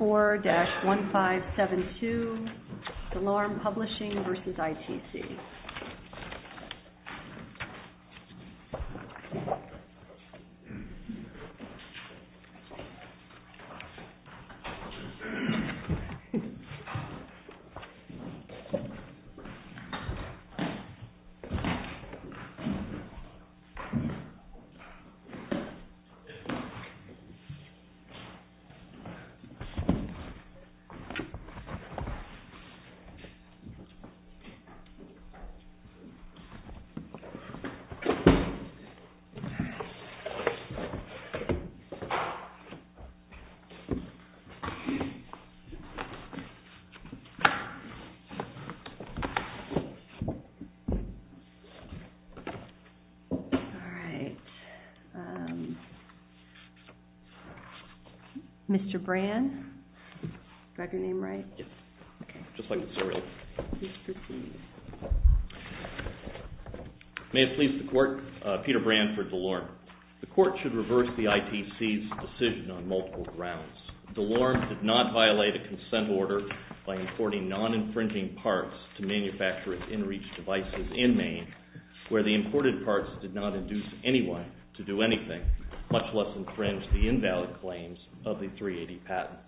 4-1572, Dalarm Publishing versus ITC. 4-1572, Dalarm Publishing versus ITC. May it please the Court, Peter Branford, Dalarm. The Court should reverse the ITC's decision on multiple grounds. Dalarm did not violate a consent order by importing non-infringing parts to manufacture its in-reach devices in Maine, where the imported parts did not induce anyone to do anything, much less infringe the invalid claims of the 380 patent.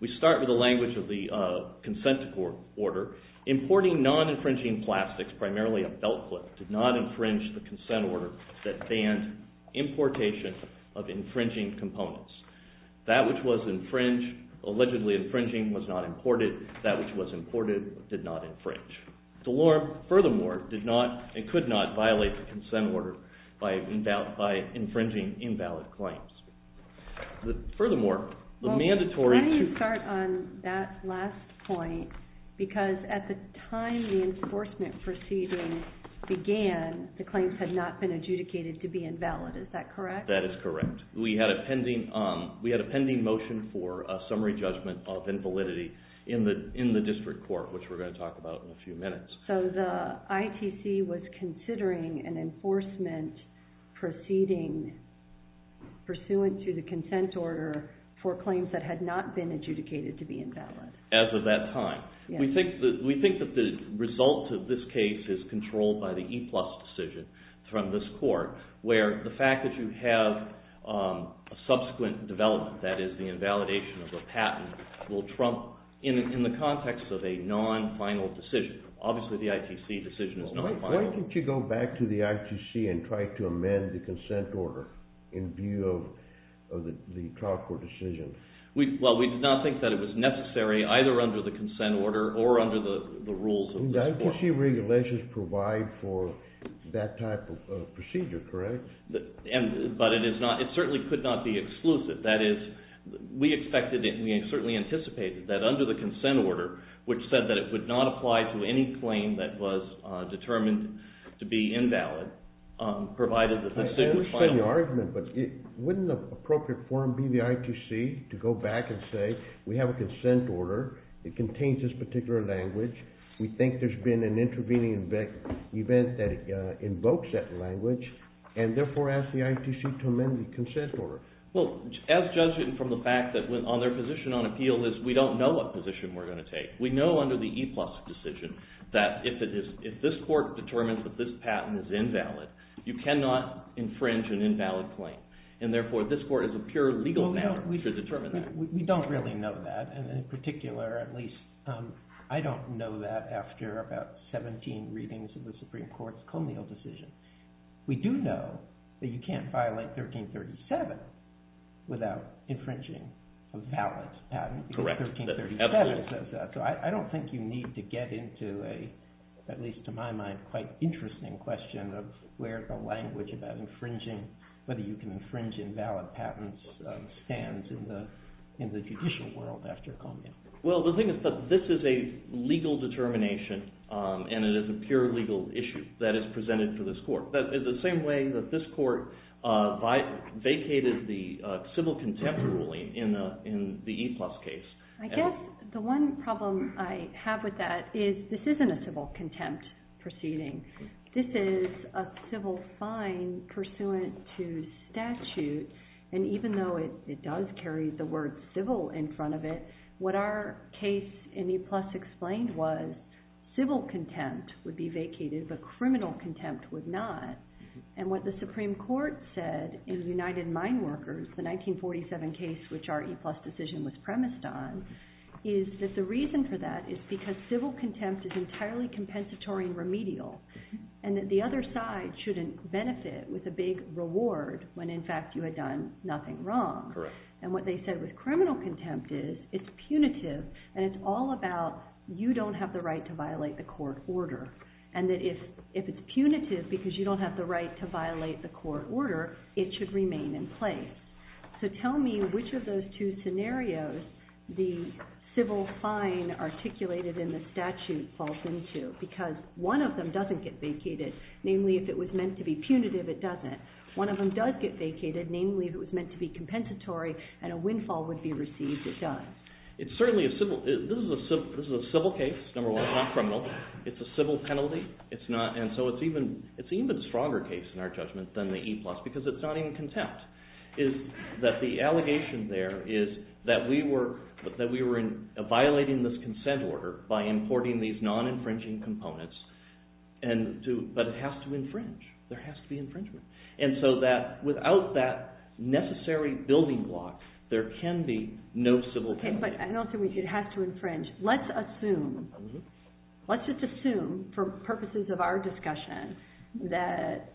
We start with the language of the consent order. Importing non-infringing plastics, primarily a belt clip, did not infringe the consent order that banned importation of infringing components. That which was infringed, allegedly infringing, was not imported. That which was imported did not infringe. Dalarm, furthermore, did not and could not violate the consent order by infringing invalid claims. Furthermore, the mandatory... When do you start on that last point? Because at the time the enforcement proceedings began, the claims had not been adjudicated to be invalid, is that correct? That is correct. We had a pending motion for a summary judgment of invalidity in the district court, which we're going to talk about in a few minutes. So the ITC was considering an enforcement proceeding pursuant to the consent order for claims that had not been adjudicated to be invalid. As of that time. We think that the result of this case is controlled by the E-plus decision from this court, where the fact that you have a subsequent development, that is, the invalidation of a patent, will trump in the context of a non-final decision. Obviously, the ITC decision is not final. Why didn't you go back to the ITC and try to amend the consent order in view of the trial court decision? Well, we did not think that it was necessary, either under the consent order or under the rules of this court. The ITC regulations provide for that type of procedure, correct? But it certainly could not be exclusive. That is, we expected and we certainly anticipated that under the consent order, which said that it would not apply to any claim that was determined to be invalid, provided that this is the final... But wouldn't the appropriate form be the ITC to go back and say, we have a consent order. It contains this particular language. We think there's been an intervening event that invokes that language, and therefore ask the ITC to amend the consent order. Well, as judged from the fact that their position on appeal is we don't know what position we're going to take. We know under the E-plus decision that if this court determines that this patent is invalid, you cannot infringe an invalid claim, and therefore this court is a pure legal matter to determine that. We don't really know that, and in particular, at least, I don't know that after about 17 readings of the Supreme Court's colonial decision. We do know that you can't violate 1337 without infringing a valid patent. So I don't think you need to get into a, at least to my mind, quite interesting question of where the language about infringing, whether you can infringe invalid patents stands in the judicial world after Columbia. Well, the thing is that this is a legal determination, and it is a pure legal issue that is presented to this court. It's the same way that this court vacated the civil contempt ruling in the E-plus case. I guess the one problem I have with that is this isn't a civil contempt proceeding. This is a civil fine pursuant to statute, and even though it does carry the word civil in front of it, what our case in E-plus explained was civil contempt would be vacated, but criminal contempt would not. And what the Supreme Court said in the United Mine Workers, the 1947 case which our E-plus decision was premised on, is that the reason for that is because civil contempt is entirely compensatory and remedial, and that the other side shouldn't benefit with a big reward when, in fact, you had done nothing wrong. And what they said with criminal contempt is it's punitive, and it's all about you don't have the right to violate the court order, and that if it's punitive because you don't have the right to violate the court order, it should remain in place. So tell me which of those two scenarios the civil fine articulated in the statute falls into, because one of them doesn't get vacated, namely if it was meant to be punitive, it doesn't. One of them does get vacated, namely if it was meant to be compensatory and a windfall would be received, it does. It's certainly a civil, this is a civil case, number one, it's not criminal, it's a civil penalty, and so it's an even stronger case in our judgment than the E-plus because it's not in contempt. The allegation there is that we were violating this consent order by importing these non-infringing components, but it has to infringe. There has to be infringement. And so without that necessary building block, there can be no civil contempt. Okay, but I don't think it has to infringe. Let's assume, let's just assume for purposes of our discussion that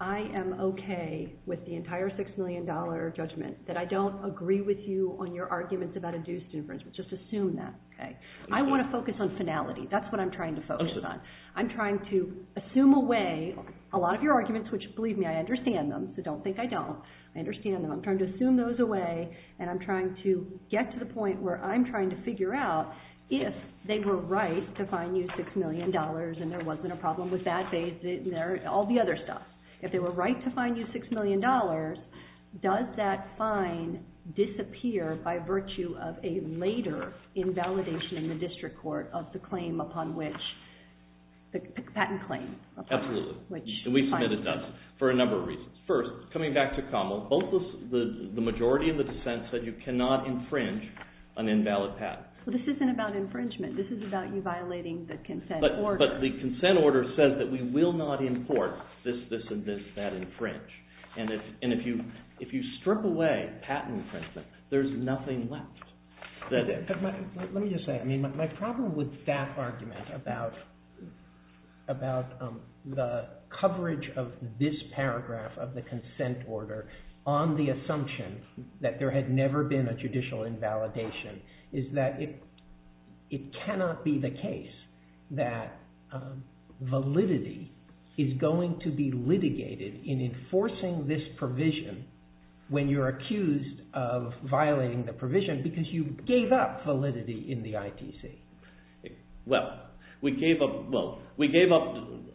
I am okay with the entire $6 million judgment, that I don't agree with you on your arguments about induced infringement. Just assume that, okay? I want to focus on finality. That's what I'm trying to focus on. I'm trying to assume away a lot of your arguments, which believe me, I understand them, so don't think I don't. I understand them. I'm trying to assume those away, and I'm trying to get to the point where I'm trying to figure out if they were right to fine you $6 million and there wasn't a problem with that, all the other stuff. If they were right to fine you $6 million, does that fine disappear by virtue of a later invalidation in the district court of the claim upon which, the patent claim? Absolutely, and we've submitted dozens for a number of reasons. First, coming back to Commel, the majority of the dissent said you cannot infringe an invalid patent. Well, this isn't about infringement. This is about you violating the consent order. But the consent order says that we will not import this, this, and this, that infringe. And if you strip away patent infringement, there's nothing left. Let me just say, my problem with that argument about the coverage of this paragraph of the consent order on the assumption that there had never been a judicial invalidation is that it cannot be the case that validity is going to be litigated in enforcing this provision when you're accused of violating the provision because you gave up validity in the ITC. Well, we gave up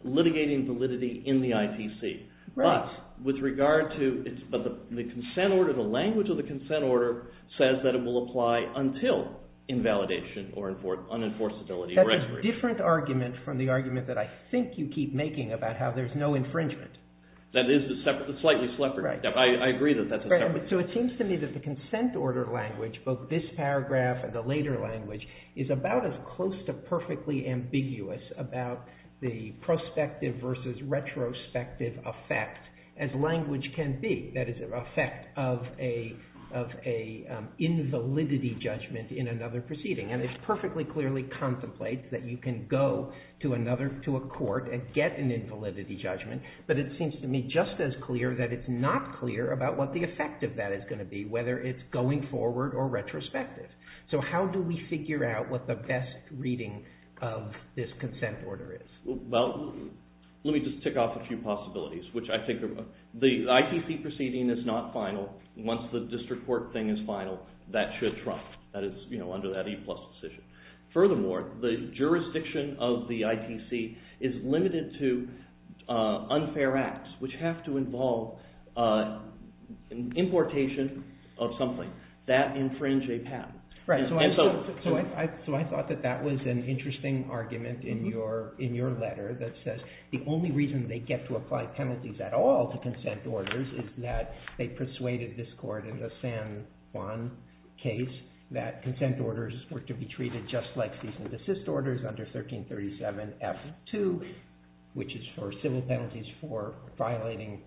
litigating validity in the ITC, but with regard to the consent order, the language of the consent order says that it will apply until invalidation or unenforceability. That's a different argument from the argument that I think you keep making about how there's no infringement. That is a slightly separate argument. I agree that that's a separate argument. So it seems to me that the consent order language, both this paragraph and the later language, is about as close to perfectly ambiguous about the prospective versus retrospective effect as language can be. That is, the effect of an invalidity judgment in another proceeding. And it perfectly clearly contemplates that you can go to a court and get an invalidity judgment, but it seems to me just as clear that it's not clear about what the effect of that is going to be, whether it's going forward or retrospective. So how do we figure out what the best reading of this consent order is? Well, let me just tick off a few possibilities, which I think are—the ITC proceeding is not final. Once the district court thing is final, that should trump, that is, under that E-plus decision. Furthermore, the jurisdiction of the ITC is limited to unfair acts, which have to involve an importation of something that infringes a patent. Right. So I thought that that was an interesting argument in your letter that says the only reason they get to apply penalties at all to consent orders is that they persuaded this court in the San Juan case that consent orders were to be treated just like cease and desist orders under 1337F2, which is for civil penalties for violating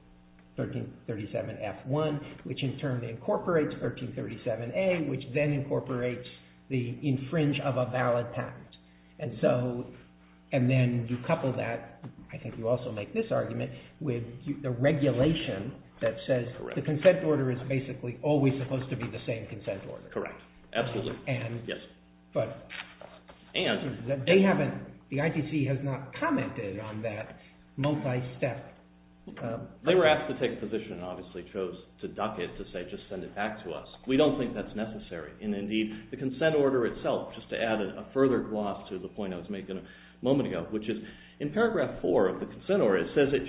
1337F1, which in turn incorporates 1337A, which then incorporates the infringe of a valid patent. And then you couple that—I think you also make this argument—with the regulation that says the consent order is basically always supposed to be the same consent order. Correct. Absolutely. Yes. And— They haven't—the ITC has not commented on that multi-step— They were asked to take a position and obviously chose to duck it to say just send it back to us. We don't think that's necessary. And indeed, the consent order itself, just to add a further gloss to the point I was making a moment ago, which is in paragraph 4 of the consent order, it says, It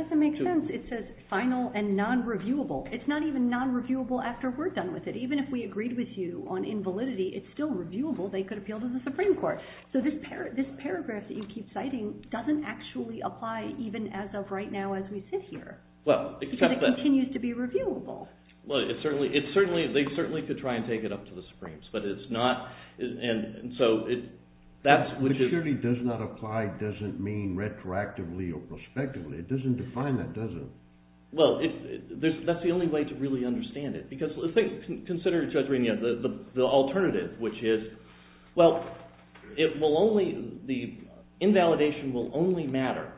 doesn't make sense. It says final and non-reviewable. It's not even non-reviewable after we're done with it. Even if we agreed with you on invalidity, it's still reviewable. They could appeal to the Supreme Court. So this paragraph that you keep citing doesn't actually apply even as of right now as we sit here. Well, except that— Because it continues to be reviewable. Well, it certainly—they certainly could try and take it up to the Supremes, but it's not—and so that's— But surely does not apply doesn't mean retroactively or prospectively. It doesn't define that, does it? Well, that's the only way to really understand it because consider the alternative, which is, well, it will only—the invalidation will only matter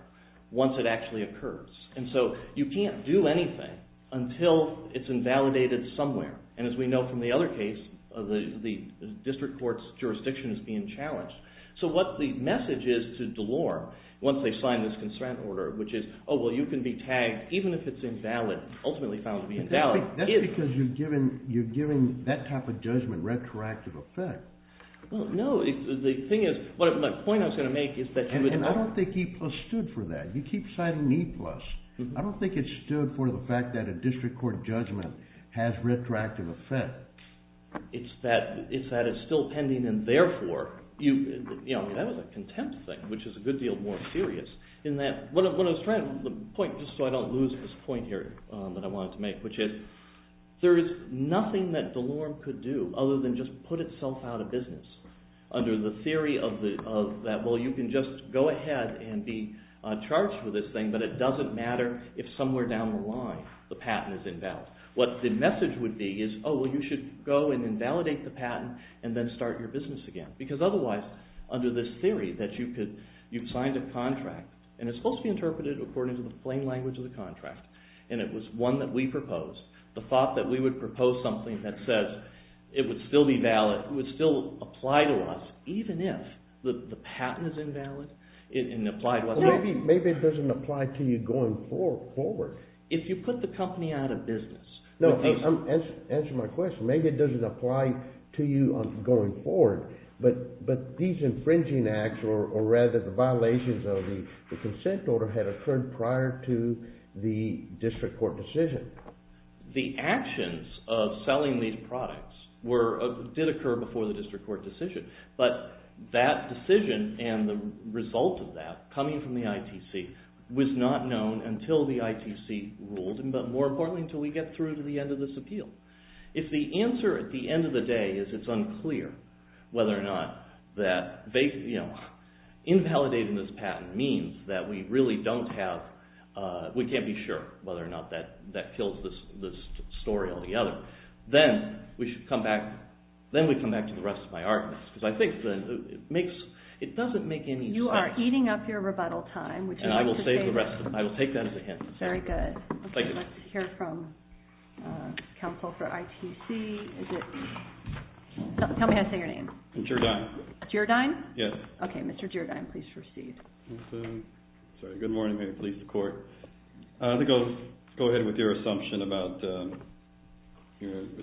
once it actually occurs. And so you can't do anything until it's invalidated somewhere, and as we know from the other case, the district court's jurisdiction is being challenged. So what the message is to Delore once they sign this consent order, which is, oh, well, you can be tagged even if it's invalid, ultimately found to be invalid. That's because you've given that type of judgment retroactive effect. Well, no. The thing is—my point I was going to make is that— I mean, I don't think E-plus stood for that. You keep citing E-plus. I don't think it stood for the fact that a district court judgment has retroactive effect. It's that it's still pending, and therefore—you know, that was a contempt thing, which is a good deal more serious in that— What I was trying to—the point, just so I don't lose this point here that I wanted to make, which is there is nothing that Delore could do other than just put itself out of business. Under the theory of that, well, you can just go ahead and be charged with this thing, but it doesn't matter if somewhere down the line the patent is invalid. What the message would be is, oh, well, you should go and invalidate the patent and then start your business again. Because otherwise, under this theory that you could—you've signed a contract, and it's supposed to be interpreted according to the plain language of the contract, and it was one that we proposed, the thought that we would propose something that says it would still be valid, would still apply to us, even if the patent is invalid and applied— Well, maybe it doesn't apply to you going forward. If you put the company out of business— Answer my question. Maybe it doesn't apply to you going forward, but these infringing acts, or rather the violations of the consent order, had occurred prior to the district court decision. The actions of selling these products did occur before the district court decision, but that decision and the result of that coming from the ITC was not known until the ITC ruled, but more importantly until we get through to the end of this appeal. If the answer at the end of the day is it's unclear whether or not that invalidating this patent means that we really don't have—we can't be sure whether or not that kills this story all together, then we should come back to the rest of my arguments, because I think it doesn't make any sense. You are eating up your rebuttal time. And I will save the rest of it. I will take that as a hint. Very good. Let's hear from counsel for ITC. Is it—tell me how to say your name. Gerdyne. Gerdyne? Yes. Okay, Mr. Gerdyne, please proceed. Good morning. I'm here to please the court. I think I'll go ahead with your assumption about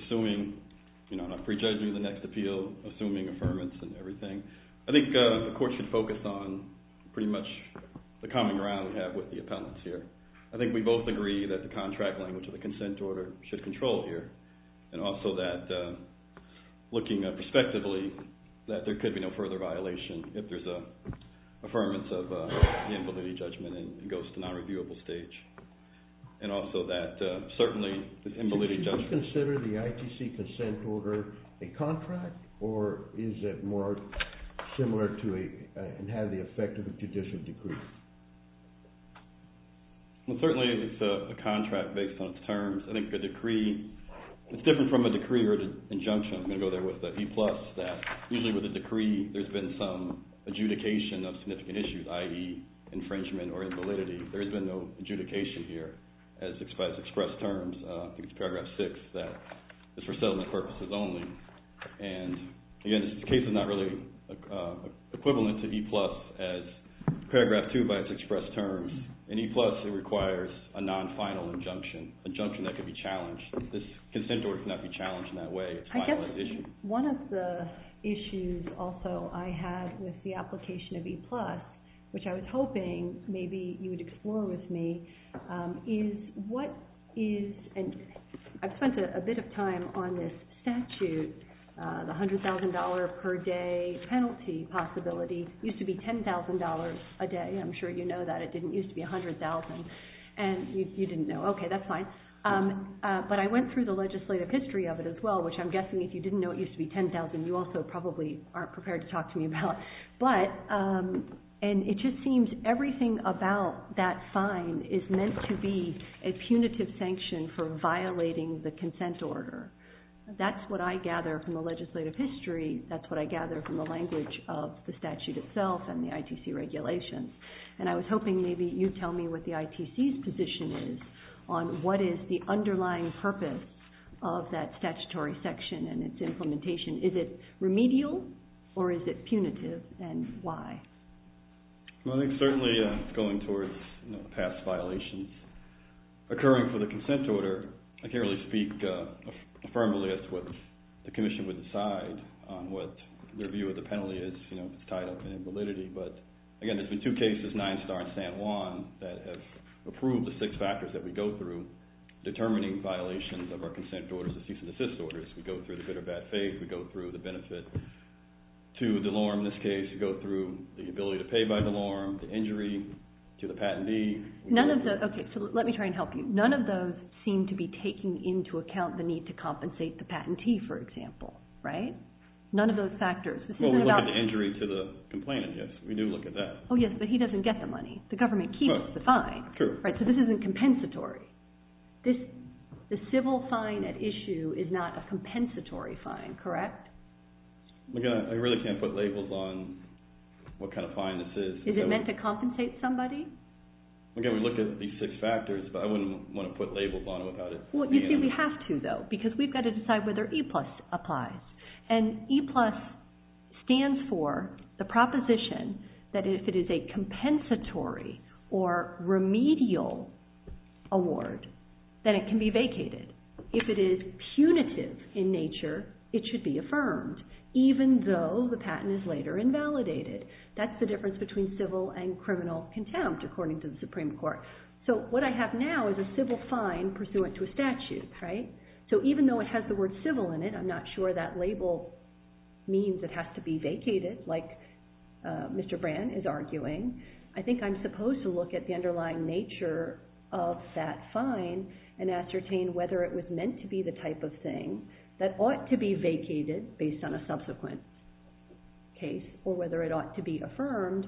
assuming, you know, not prejudging the next appeal, assuming affirmance and everything. I think the court should focus on pretty much the common ground we have with the appellants here. I think we both agree that the contract language of the consent order should control here, and also that looking at it prospectively, that there could be no further violation if there's an affirmance of the invalidity judgment and it goes to nonreviewable stage. And also that certainly the invalidity judgment— Well, certainly it's a contract based on its terms. I think the decree—it's different from a decree or an injunction. I'm going to go there with a B plus that usually with a decree there's been some adjudication of significant issues, i.e., infringement or invalidity. There's been no adjudication here as expressed terms. I think it's paragraph 6 that it's for settlement purposes only. And, again, this case is not really equivalent to E plus as paragraph 2 by its expressed terms. In E plus it requires a non-final injunction, injunction that could be challenged. This consent order cannot be challenged in that way. I guess one of the issues also I had with the application of E plus, which I was hoping maybe you would explore with me, is what is—and I've spent a bit of time on this statute, the $100,000 per day penalty possibility. It used to be $10,000 a day. I'm sure you know that. It didn't used to be $100,000. And you didn't know. Okay, that's fine. But I went through the legislative history of it as well, which I'm guessing if you didn't know it used to be $10,000 you also probably aren't prepared to talk to me about. But—and it just seems everything about that fine is meant to be a punitive sanction for violating the consent order. That's what I gather from the legislative history. That's what I gather from the language of the statute itself and the ITC regulations. And I was hoping maybe you'd tell me what the ITC's position is on what is the underlying purpose of that statutory section and its implementation. Is it remedial or is it punitive and why? Well, I think certainly going towards past violations occurring for the consent order, I can't really speak affirmatively as to what the commission would decide on what their view of the penalty is tied up in validity. But, again, there's been two cases, Ninestar and San Juan, that have approved the six factors that we go through determining violations of our consent orders, the cease and desist orders. We go through the good or bad faith. We go through the benefit to Delorme in this case. We go through the ability to pay by Delorme, the injury to the patentee. None of the—okay, so let me try and help you. None of those seem to be taking into account the need to compensate the patentee, for example, right? None of those factors. Well, we look at the injury to the complainant, yes. We do look at that. Oh, yes, but he doesn't get the money. The government keeps the fine. Right, so this isn't compensatory. The civil fine at issue is not a compensatory fine, correct? Again, I really can't put labels on what kind of fine this is. Is it meant to compensate somebody? Again, we look at these six factors, but I wouldn't want to put labels on it without it being— stands for the proposition that if it is a compensatory or remedial award, then it can be vacated. If it is punitive in nature, it should be affirmed, even though the patent is later invalidated. That's the difference between civil and criminal contempt, according to the Supreme Court. So what I have now is a civil fine pursuant to a statute, right? So even though it has the word civil in it, I'm not sure that label means it has to be vacated, like Mr. Brand is arguing. I think I'm supposed to look at the underlying nature of that fine and ascertain whether it was meant to be the type of thing that ought to be vacated based on a subsequent case or whether it ought to be affirmed.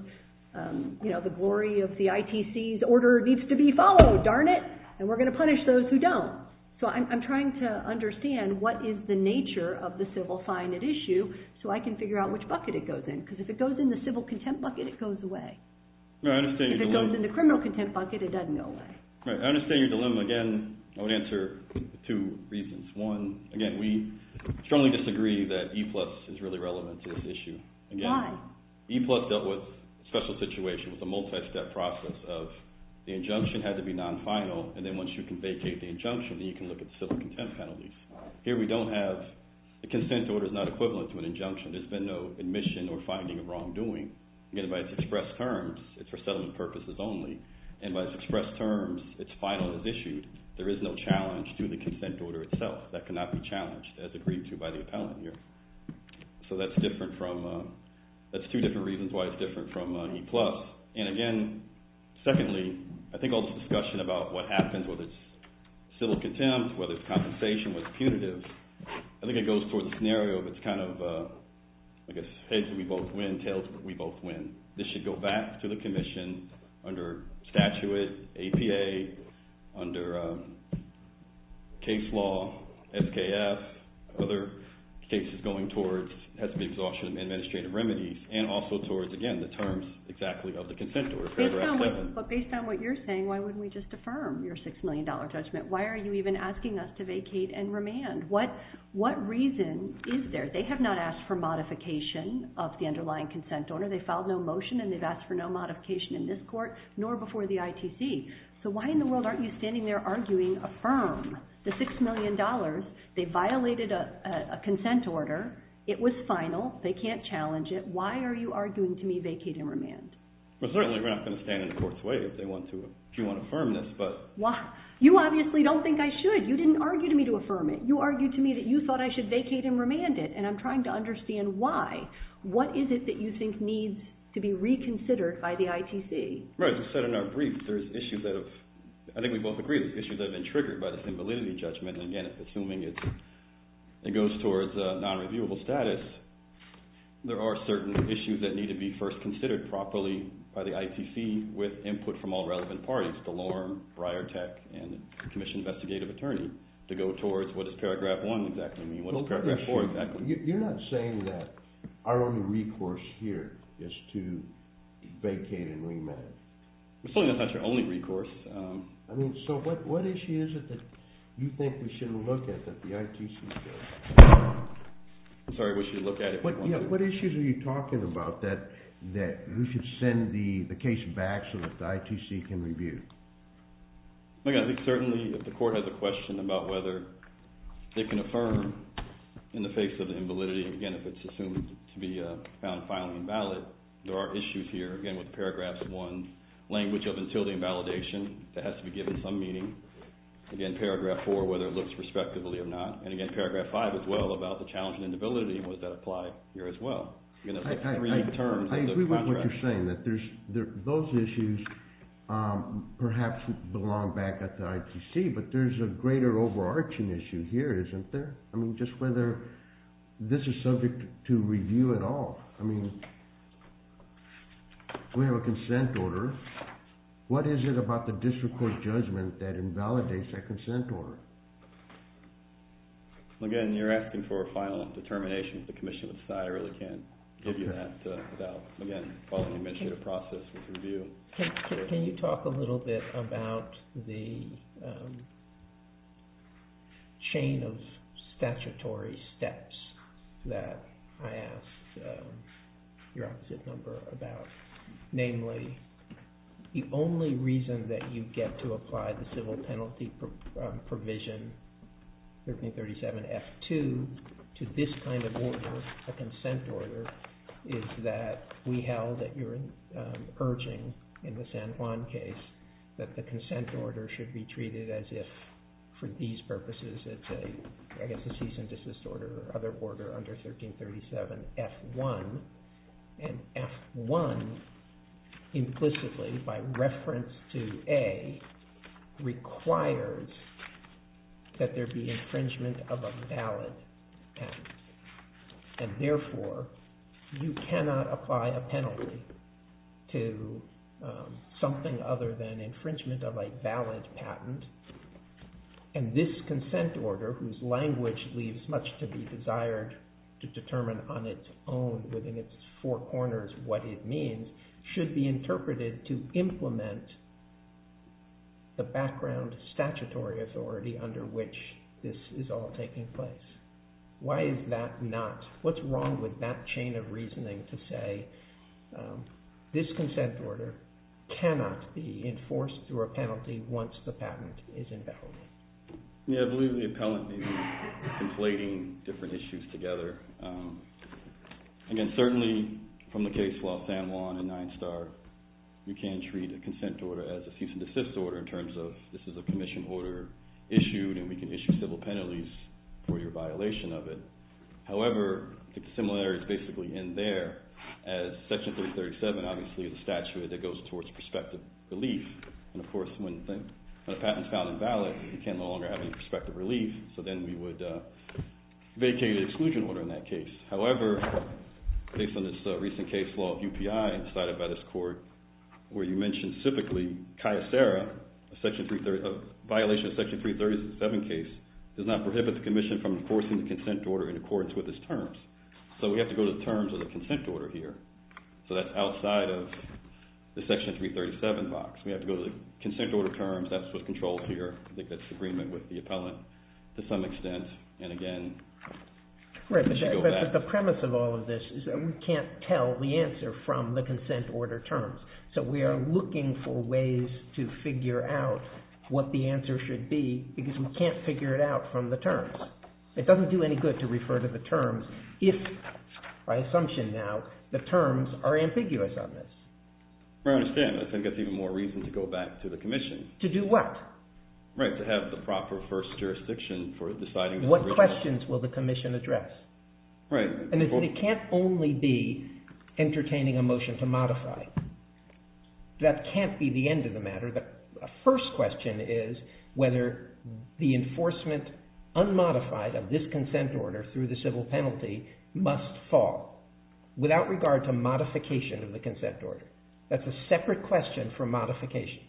You know, the glory of the ITC's order needs to be followed, darn it, and we're going to punish those who don't. So I'm trying to understand what is the nature of the civil fine at issue so I can figure out which bucket it goes in, because if it goes in the civil contempt bucket, it goes away. If it goes in the criminal contempt bucket, it doesn't go away. I understand your dilemma. Again, I would answer two reasons. One, again, we strongly disagree that E-plus is really relevant to this issue. Why? E-plus dealt with a special situation with a multi-step process of the injunction had to be non-final, and then once you can vacate the injunction, then you can look at the civil contempt penalties. Here we don't have – the consent order is not equivalent to an injunction. There's been no admission or finding of wrongdoing. Again, by its express terms, it's for settlement purposes only, and by its express terms, it's final as issued. There is no challenge to the consent order itself. That cannot be challenged as agreed to by the appellant here. So that's different from – that's two different reasons why it's different from E-plus. And again, secondly, I think all this discussion about what happens, whether it's civil contempt, whether it's compensation, whether it's punitive, I think it goes toward the scenario of it's kind of, I guess, heads we both win, tails we both win. This should go back to the Commission under statute, APA, under case law, SKF, other cases going towards – has to be exhaustion of administrative remedies, and also towards, again, the terms exactly of the consent order, paragraph 7. But based on what you're saying, why wouldn't we just affirm your $6 million judgment? Why are you even asking us to vacate and remand? What reason is there? They have not asked for modification of the underlying consent order. They filed no motion, and they've asked for no modification in this court, nor before the ITC. So why in the world aren't you standing there arguing, affirm the $6 million? They violated a consent order. It was final. They can't challenge it. Why are you arguing to me vacate and remand? Well, certainly we're not going to stand in the court's way if they want to – if you want to affirm this, but – You obviously don't think I should. You didn't argue to me to affirm it. You argued to me that you thought I should vacate and remand it, and I'm trying to understand why. What is it that you think needs to be reconsidered by the ITC? Right. You said in our brief there's issues that have – I think we both agree there's issues that have been triggered by this invalidity judgment. And again, assuming it goes towards non-reviewable status, there are certain issues that need to be first considered properly by the ITC with input from all relevant parties, Delorme, Briartec, and the commission investigative attorney, to go towards what does Paragraph 1 exactly mean, what does Paragraph 4 exactly mean. You're not saying that our only recourse here is to vacate and remand it. I mean, so what issue is it that you think we should look at that the ITC should – I'm sorry, we should look at it. What issues are you talking about that we should send the case back so that the ITC can review? Look, I think certainly if the court has a question about whether they can affirm in the face of the invalidity, again, if it's assumed to be found finally invalid, there are issues here, again, with Paragraph 1, language of until the invalidation that has to be given some meaning. Again, Paragraph 4, whether it looks respectably or not. And again, Paragraph 5 as well about the challenge and inability was that applied here as well. I agree with what you're saying, that those issues perhaps belong back at the ITC, but there's a greater overarching issue here, isn't there? I mean, just whether this is subject to review at all. I mean, we have a consent order. What is it about the district court judgment that invalidates that consent order? Again, you're asking for a final determination. The Commission of the Society really can't give you that without, again, following administrative process with review. Can you talk a little bit about the chain of statutory steps that I asked your opposite number about? Namely, the only reason that you get to apply the civil penalty provision 1337F2 to this kind of order, a consent order, is that we held that you're urging in the San Juan case that the consent order should be treated as if, for these purposes, it's a cease and desist order or other order under 1337F1. And F1 implicitly, by reference to A, requires that there be infringement of a valid act. And therefore, you cannot apply a penalty to something other than infringement of a valid patent. And this consent order, whose language leaves much to be desired to determine on its own within its four corners what it means, should be interpreted to implement the background statutory authority under which this is all taking place. Why is that not? What's wrong with that chain of reasoning to say this consent order cannot be enforced through a penalty once the patent is invalid? Yeah, I believe the appellant needs to be conflating different issues together. Again, certainly from the case of San Juan and Nine Star, you can treat a consent order as a cease and desist order in terms of this is a commission order issued and we can issue civil penalties for your violation of it. However, the similarities basically end there as Section 337 obviously is a statute that goes towards prospective relief. And of course, when a patent is found invalid, you can no longer have any prospective relief, so then we would vacate the exclusion order in that case. However, based on this recent case law of UPI decided by this court, where you mentioned civically, Cayucera, a violation of Section 337 case, does not prohibit the commission from enforcing the consent order in accordance with its terms. So we have to go to the terms of the consent order here. So that's outside of the Section 337 box. We have to go to the consent order terms. That's what's controlled here. I think that's in agreement with the appellant to some extent. Right, but the premise of all of this is that we can't tell the answer from the consent order terms. So we are looking for ways to figure out what the answer should be because we can't figure it out from the terms. It doesn't do any good to refer to the terms if, by assumption now, the terms are ambiguous on this. I understand. I think that's even more reason to go back to the commission. To do what? Right, to have the proper first jurisdiction for deciding. What questions will the commission address? Right. And it can't only be entertaining a motion to modify. That can't be the end of the matter. The first question is whether the enforcement unmodified of this consent order through the civil penalty must fall without regard to modification of the consent order. That's a separate question for modification.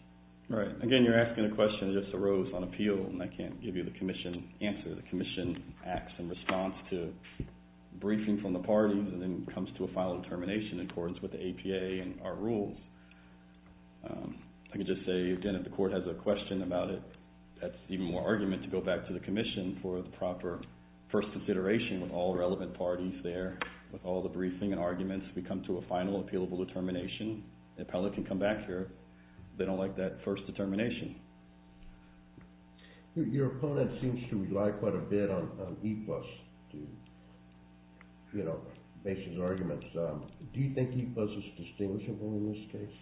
Right. Again, you're asking a question that just arose on appeal and I can't give you the commission answer. The commission acts in response to briefing from the party and then comes to a final determination in accordance with the APA and our rules. I can just say, again, if the court has a question about it, that's even more argument to go back to the commission for the proper first consideration with all relevant parties there. With all the briefing and arguments, we come to a final appealable determination. The appellate can come back here if they don't like that first determination. Your opponent seems to rely quite a bit on E-plus to base his arguments. Do you think E-plus is distinguishable in this case?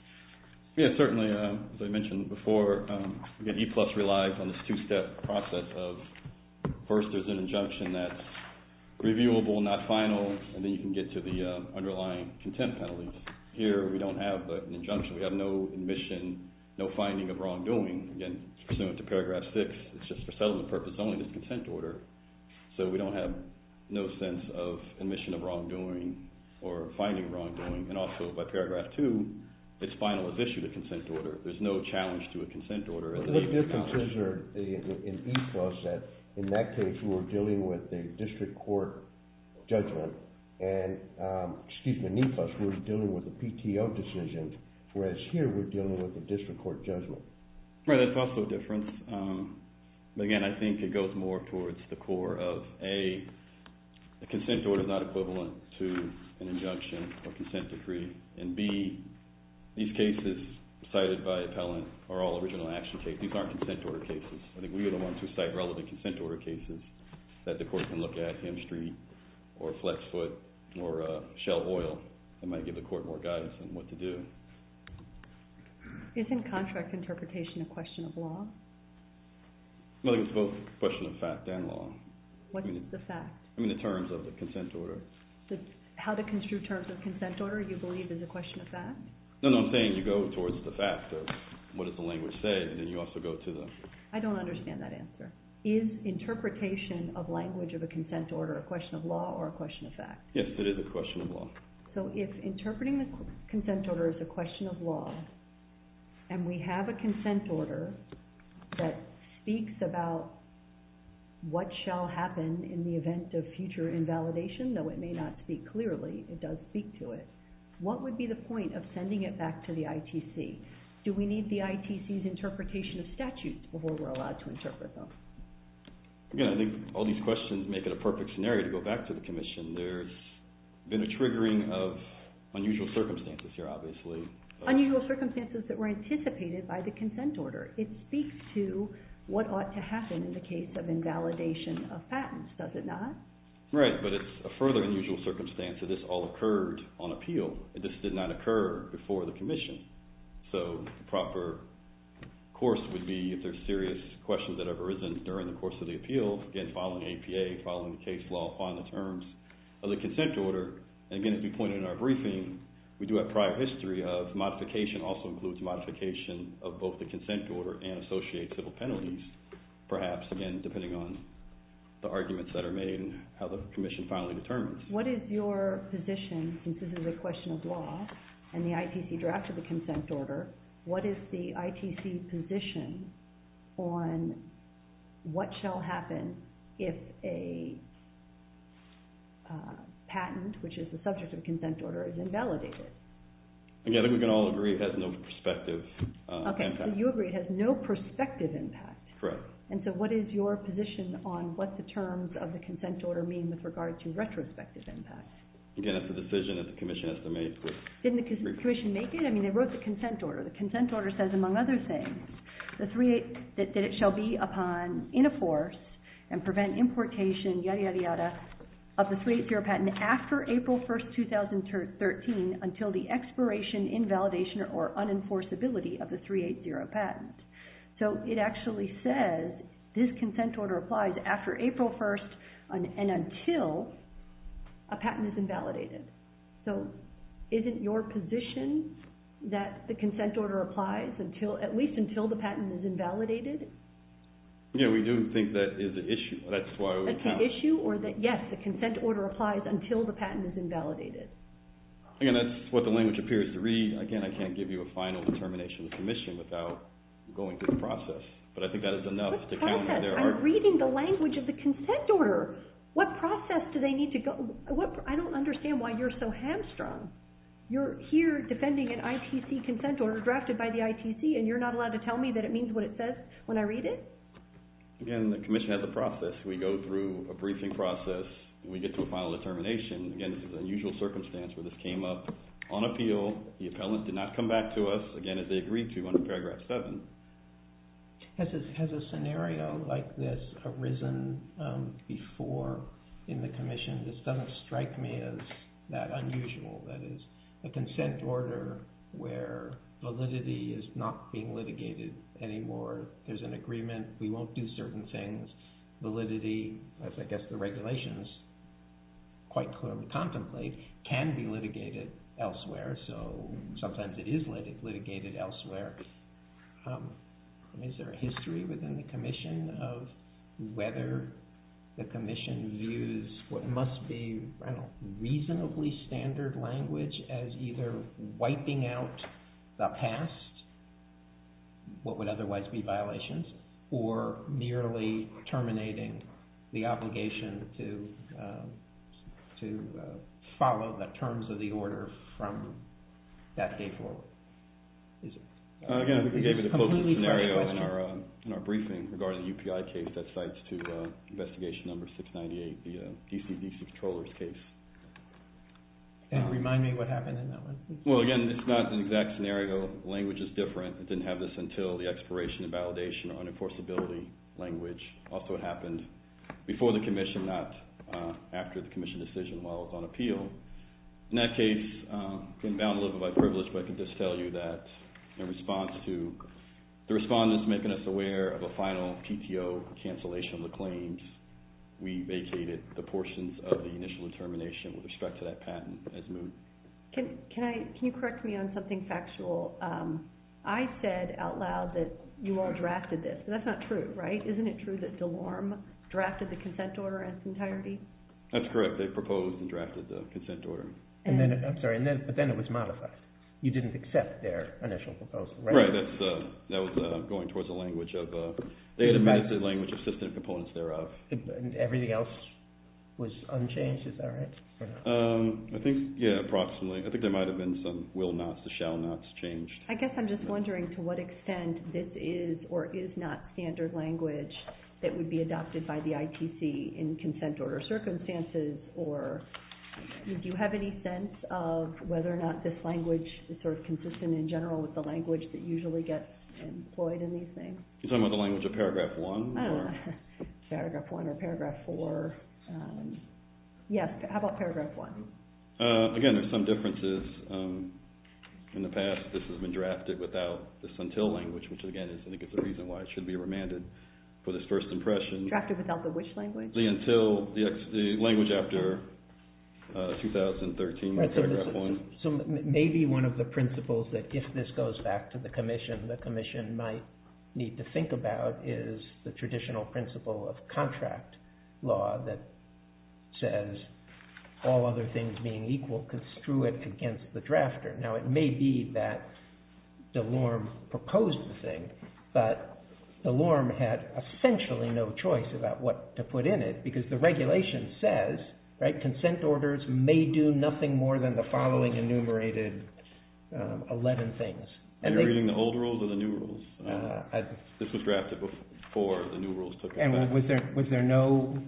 Yes, certainly. As I mentioned before, E-plus relies on this two-step process of first there's an injunction that's reviewable, not final, and then you can get to the underlying content penalties. Here we don't have an injunction. We have no admission, no finding of wrongdoing. Again, pursuant to paragraph six, it's just for settlement purposes only, this consent order. So we don't have no sense of admission of wrongdoing or finding wrongdoing. And also by paragraph two, it's final as issued a consent order. There's no challenge to a consent order. The only differences are in E-plus that in that case we were dealing with a district court judgment. And excuse me, in E-plus we're dealing with a PTO decision, whereas here we're dealing with a district court judgment. Right, that's also a difference. Again, I think it goes more towards the core of A, a consent order is not equivalent to an injunction or consent decree. And B, these cases cited by appellant are all original action cases. These aren't consent order cases. I think we are the ones who cite relevant consent order cases that the court can look at, Ham Street or Flexfoot or Shell Oil that might give the court more guidance on what to do. Isn't contract interpretation a question of law? Well, it's both a question of fact and law. What is the fact? I mean the terms of the consent order. How to construe terms of consent order you believe is a question of fact? No, no, I'm saying you go towards the fact of what does the language say and then you also go to the… I don't understand that answer. Is interpretation of language of a consent order a question of law or a question of fact? Yes, it is a question of law. So if interpreting the consent order is a question of law, and we have a consent order that speaks about what shall happen in the event of future invalidation, though it may not speak clearly, it does speak to it, what would be the point of sending it back to the ITC? Do we need the ITC's interpretation of statutes before we're allowed to interpret them? Again, I think all these questions make it a perfect scenario to go back to the commission. There's been a triggering of unusual circumstances here, obviously. Unusual circumstances that were anticipated by the consent order. It speaks to what ought to happen in the case of invalidation of patents, does it not? Right, but it's a further unusual circumstance that this all occurred on appeal. This did not occur before the commission. So the proper course would be if there's serious questions that have arisen during the course of the appeal, again, following APA, following the case law, find the terms of the consent order. Again, as we pointed in our briefing, we do have prior history of modification, also includes modification of both the consent order and associated penalties, perhaps, again, depending on the arguments that are made and how the commission finally determines. What is your position, since this is a question of law and the ITC drafted the consent order, what is the ITC position on what shall happen if a patent, which is the subject of the consent order, is invalidated? Again, we can all agree it has no prospective impact. Okay, so you agree it has no prospective impact. Correct. And so what is your position on what the terms of the consent order mean with regard to retrospective impact? Again, it's a decision that the commission has to make. Didn't the commission make it? I mean, they wrote the consent order. The consent order says, among other things, that it shall be upon, in a force, and prevent importation, yada, yada, yada, of the 380 patent after April 1st, 2013 until the expiration, invalidation, or unenforceability of the 380 patent. So it actually says this consent order applies after April 1st and until a patent is invalidated. So isn't your position that the consent order applies at least until the patent is invalidated? Yeah, we do think that is an issue. That's why we count. That's an issue or that, yes, the consent order applies until the patent is invalidated. Again, that's what the language appears to read. Again, I can't give you a final determination of the commission without going through the process, but I think that is enough to count. What process? I'm reading the language of the consent order. What process do they need to go? I don't understand why you're so hamstrung. You're here defending an ITC consent order drafted by the ITC, and you're not allowed to tell me that it means what it says when I read it? Again, the commission has a process. We go through a briefing process. We get to a final determination. Again, this is an unusual circumstance where this came up on appeal. The appellant did not come back to us, again, as they agreed to under Paragraph 7. Has a scenario like this arisen before in the commission? This doesn't strike me as that unusual. That is, a consent order where validity is not being litigated anymore. There's an agreement. We won't do certain things. Validity, as I guess the regulations quite clearly contemplate, can be litigated elsewhere. Sometimes it is litigated elsewhere. Is there a history within the commission of whether the commission views what must be reasonably standard language as either wiping out the past, what would otherwise be violations, or merely terminating the obligation to follow the terms of the order from that day forward? Again, we gave you the closest scenario in our briefing regarding the UPI case that cites to Investigation No. 698, the DC DC Controllers case. Remind me what happened in that one. Well, again, this is not an exact scenario. Language is different. It didn't have this until the expiration of validation or unenforceability language. Also, it happened before the commission, not after the commission decision, while it was on appeal. In that case, I've been bound a little bit by privilege, but I can just tell you that in response to the respondents making us aware of a final PTO cancellation of the claims, we vacated the portions of the initial determination with respect to that patent as moved. Can you correct me on something factual? I said out loud that you all drafted this. That's not true, right? Isn't it true that DeLorme drafted the consent order in its entirety? That's correct. They proposed and drafted the consent order. I'm sorry, but then it was modified. You didn't accept their initial proposal, right? Right. That was going towards a language of – they had amended the language of system components thereof. Everything else was unchanged, is that right? I think, yeah, approximately. I think there might have been some will nots to shall nots changed. I guess I'm just wondering to what extent this is or is not standard language that would be adopted by the ITC in consent order circumstances, or do you have any sense of whether or not this language is sort of consistent in general with the language that usually gets employed in these things? You're talking about the language of Paragraph 1? Paragraph 1 or Paragraph 4. Yes, how about Paragraph 1? Again, there's some differences. In the past, this has been drafted without this until language, which, again, I think is the reason why it should be remanded for this first impression. Drafted without the which language? The until – the language after 2013, Paragraph 1. Maybe one of the principles that, if this goes back to the commission, the commission might need to think about is the traditional principle of contract law that says all other things being equal, construe it against the drafter. Now, it may be that DeLorme proposed the thing, but DeLorme had essentially no choice about what to put in it because the regulation says consent orders may do nothing more than the following enumerated 11 things. Are you reading the old rules or the new rules? This was drafted before the new rules took effect. And was there no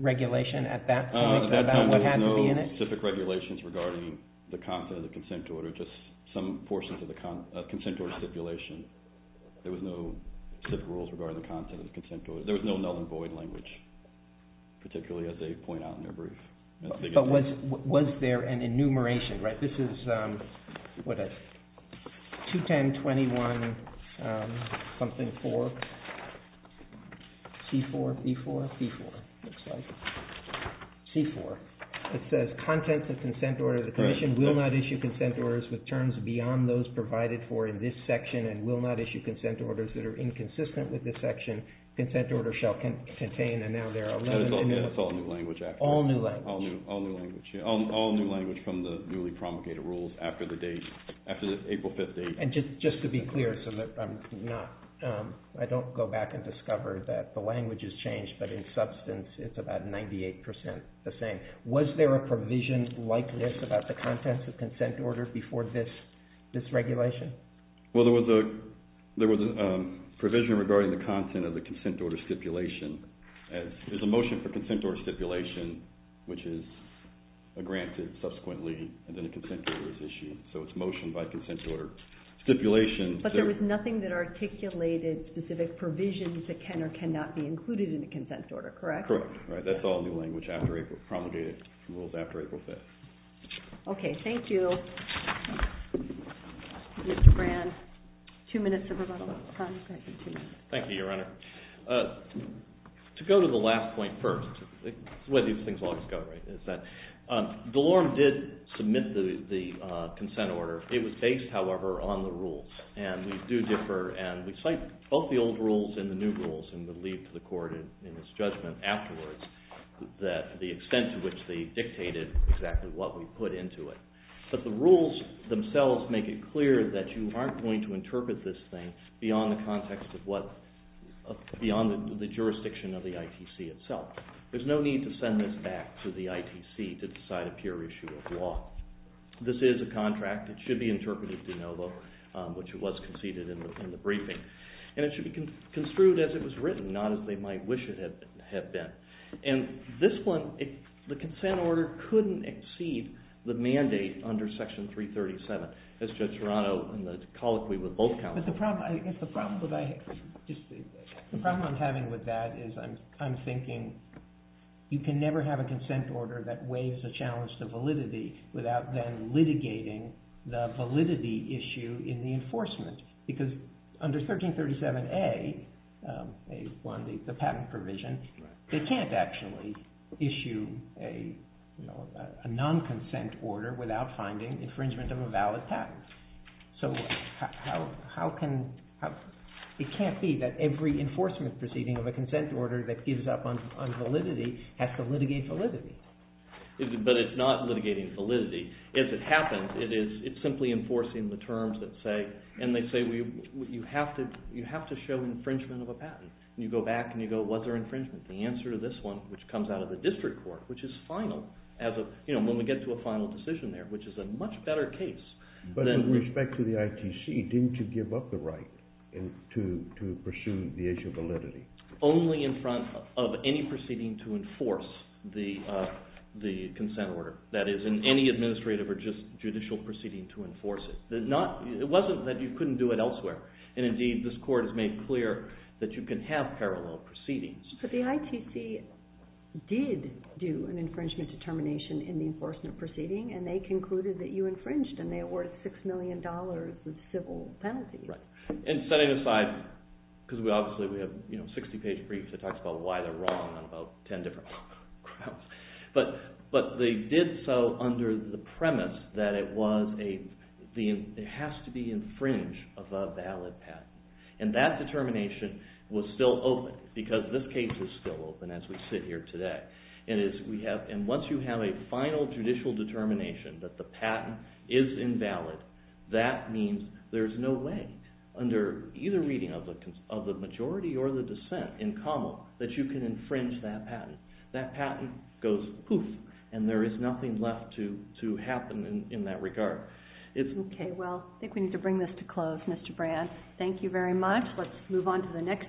regulation at that point about what had to be in it? There were no specific regulations regarding the content of the consent order, just some portions of the consent order stipulation. There was no specific rules regarding the content of the consent order. There was no null and void language, particularly as they point out in their brief. But was there an enumeration? This is 2010-21-something-4, C-4, B-4? B-4, it looks like. C-4. It says, content of the consent order, the commission will not issue consent orders with terms beyond those provided for in this section and will not issue consent orders that are inconsistent with this section. Consent order shall contain, and now there are 11 in there. It's all new language, actually. All new language. All new language from the newly promulgated rules after the April 5th date. And just to be clear, I don't go back and discover that the language has changed, but in substance it's about 98% the same. Was there a provision like this about the contents of consent order before this regulation? Well, there was a provision regarding the content of the consent order stipulation. There's a motion for consent order stipulation, which is granted subsequently, and then a consent order is issued. So it's motion by consent order stipulation. But there was nothing that articulated specific provisions that can or cannot be included in the consent order, correct? Correct. That's all new language promulgated rules after April 5th. Okay, thank you. Mr. Brand, two minutes of rebuttal. Thank you, Your Honor. To go to the last point first, it's the way these things always go, right, is that Delorme did submit the consent order. It was based, however, on the rules, and we do differ, and we cite both the old rules and the new rules, and would leave to the court in its judgment afterwards the extent to which they dictated exactly what we put into it. But the rules themselves make it clear that you aren't going to interpret this thing beyond the context of what, beyond the jurisdiction of the ITC itself. There's no need to send this back to the ITC to decide a pure issue of law. This is a contract. It should be interpreted de novo, which it was conceded in the briefing. And it should be construed as it was written, not as they might wish it had been. And this one, the consent order couldn't exceed the mandate under Section 337, as Judge Serrano in the colloquy with both counsels. But the problem I'm having with that is I'm thinking you can never have a consent order that weighs the challenge to validity without then litigating the validity issue in the enforcement. Because under 1337A, the patent provision, they can't actually issue a non-consent order without finding infringement of a valid patent. So it can't be that every enforcement proceeding of a consent order that gives up on validity has to litigate validity. But it's not litigating validity. As it happens, it's simply enforcing the terms that say, and they say you have to show infringement of a patent. You go back and you go, what's our infringement? The answer to this one, which comes out of the district court, which is final. When we get to a final decision there, which is a much better case. But with respect to the ITC, didn't you give up the right to pursue the issue of validity? Only in front of any proceeding to enforce the consent order. That is, in any administrative or judicial proceeding to enforce it. It wasn't that you couldn't do it elsewhere. And indeed, this court has made clear that you can have parallel proceedings. But the ITC did do an infringement determination in the enforcement proceeding, and they concluded that you infringed and they awarded $6 million of civil penalty. And setting aside, because obviously we have 60-page briefs that talks about why they're wrong on about 10 different grounds. But they did so under the premise that it has to be infringed of a valid patent. And that determination was still open, because this case is still open as we sit here today. And once you have a final judicial determination that the patent is invalid, that means there's no way under either reading of the majority or the dissent in common that you can infringe that patent. That patent goes poof, and there is nothing left to happen in that regard. Okay, well, I think we need to bring this to a close, Mr. Brand. Thank you very much. Let's move on to the next.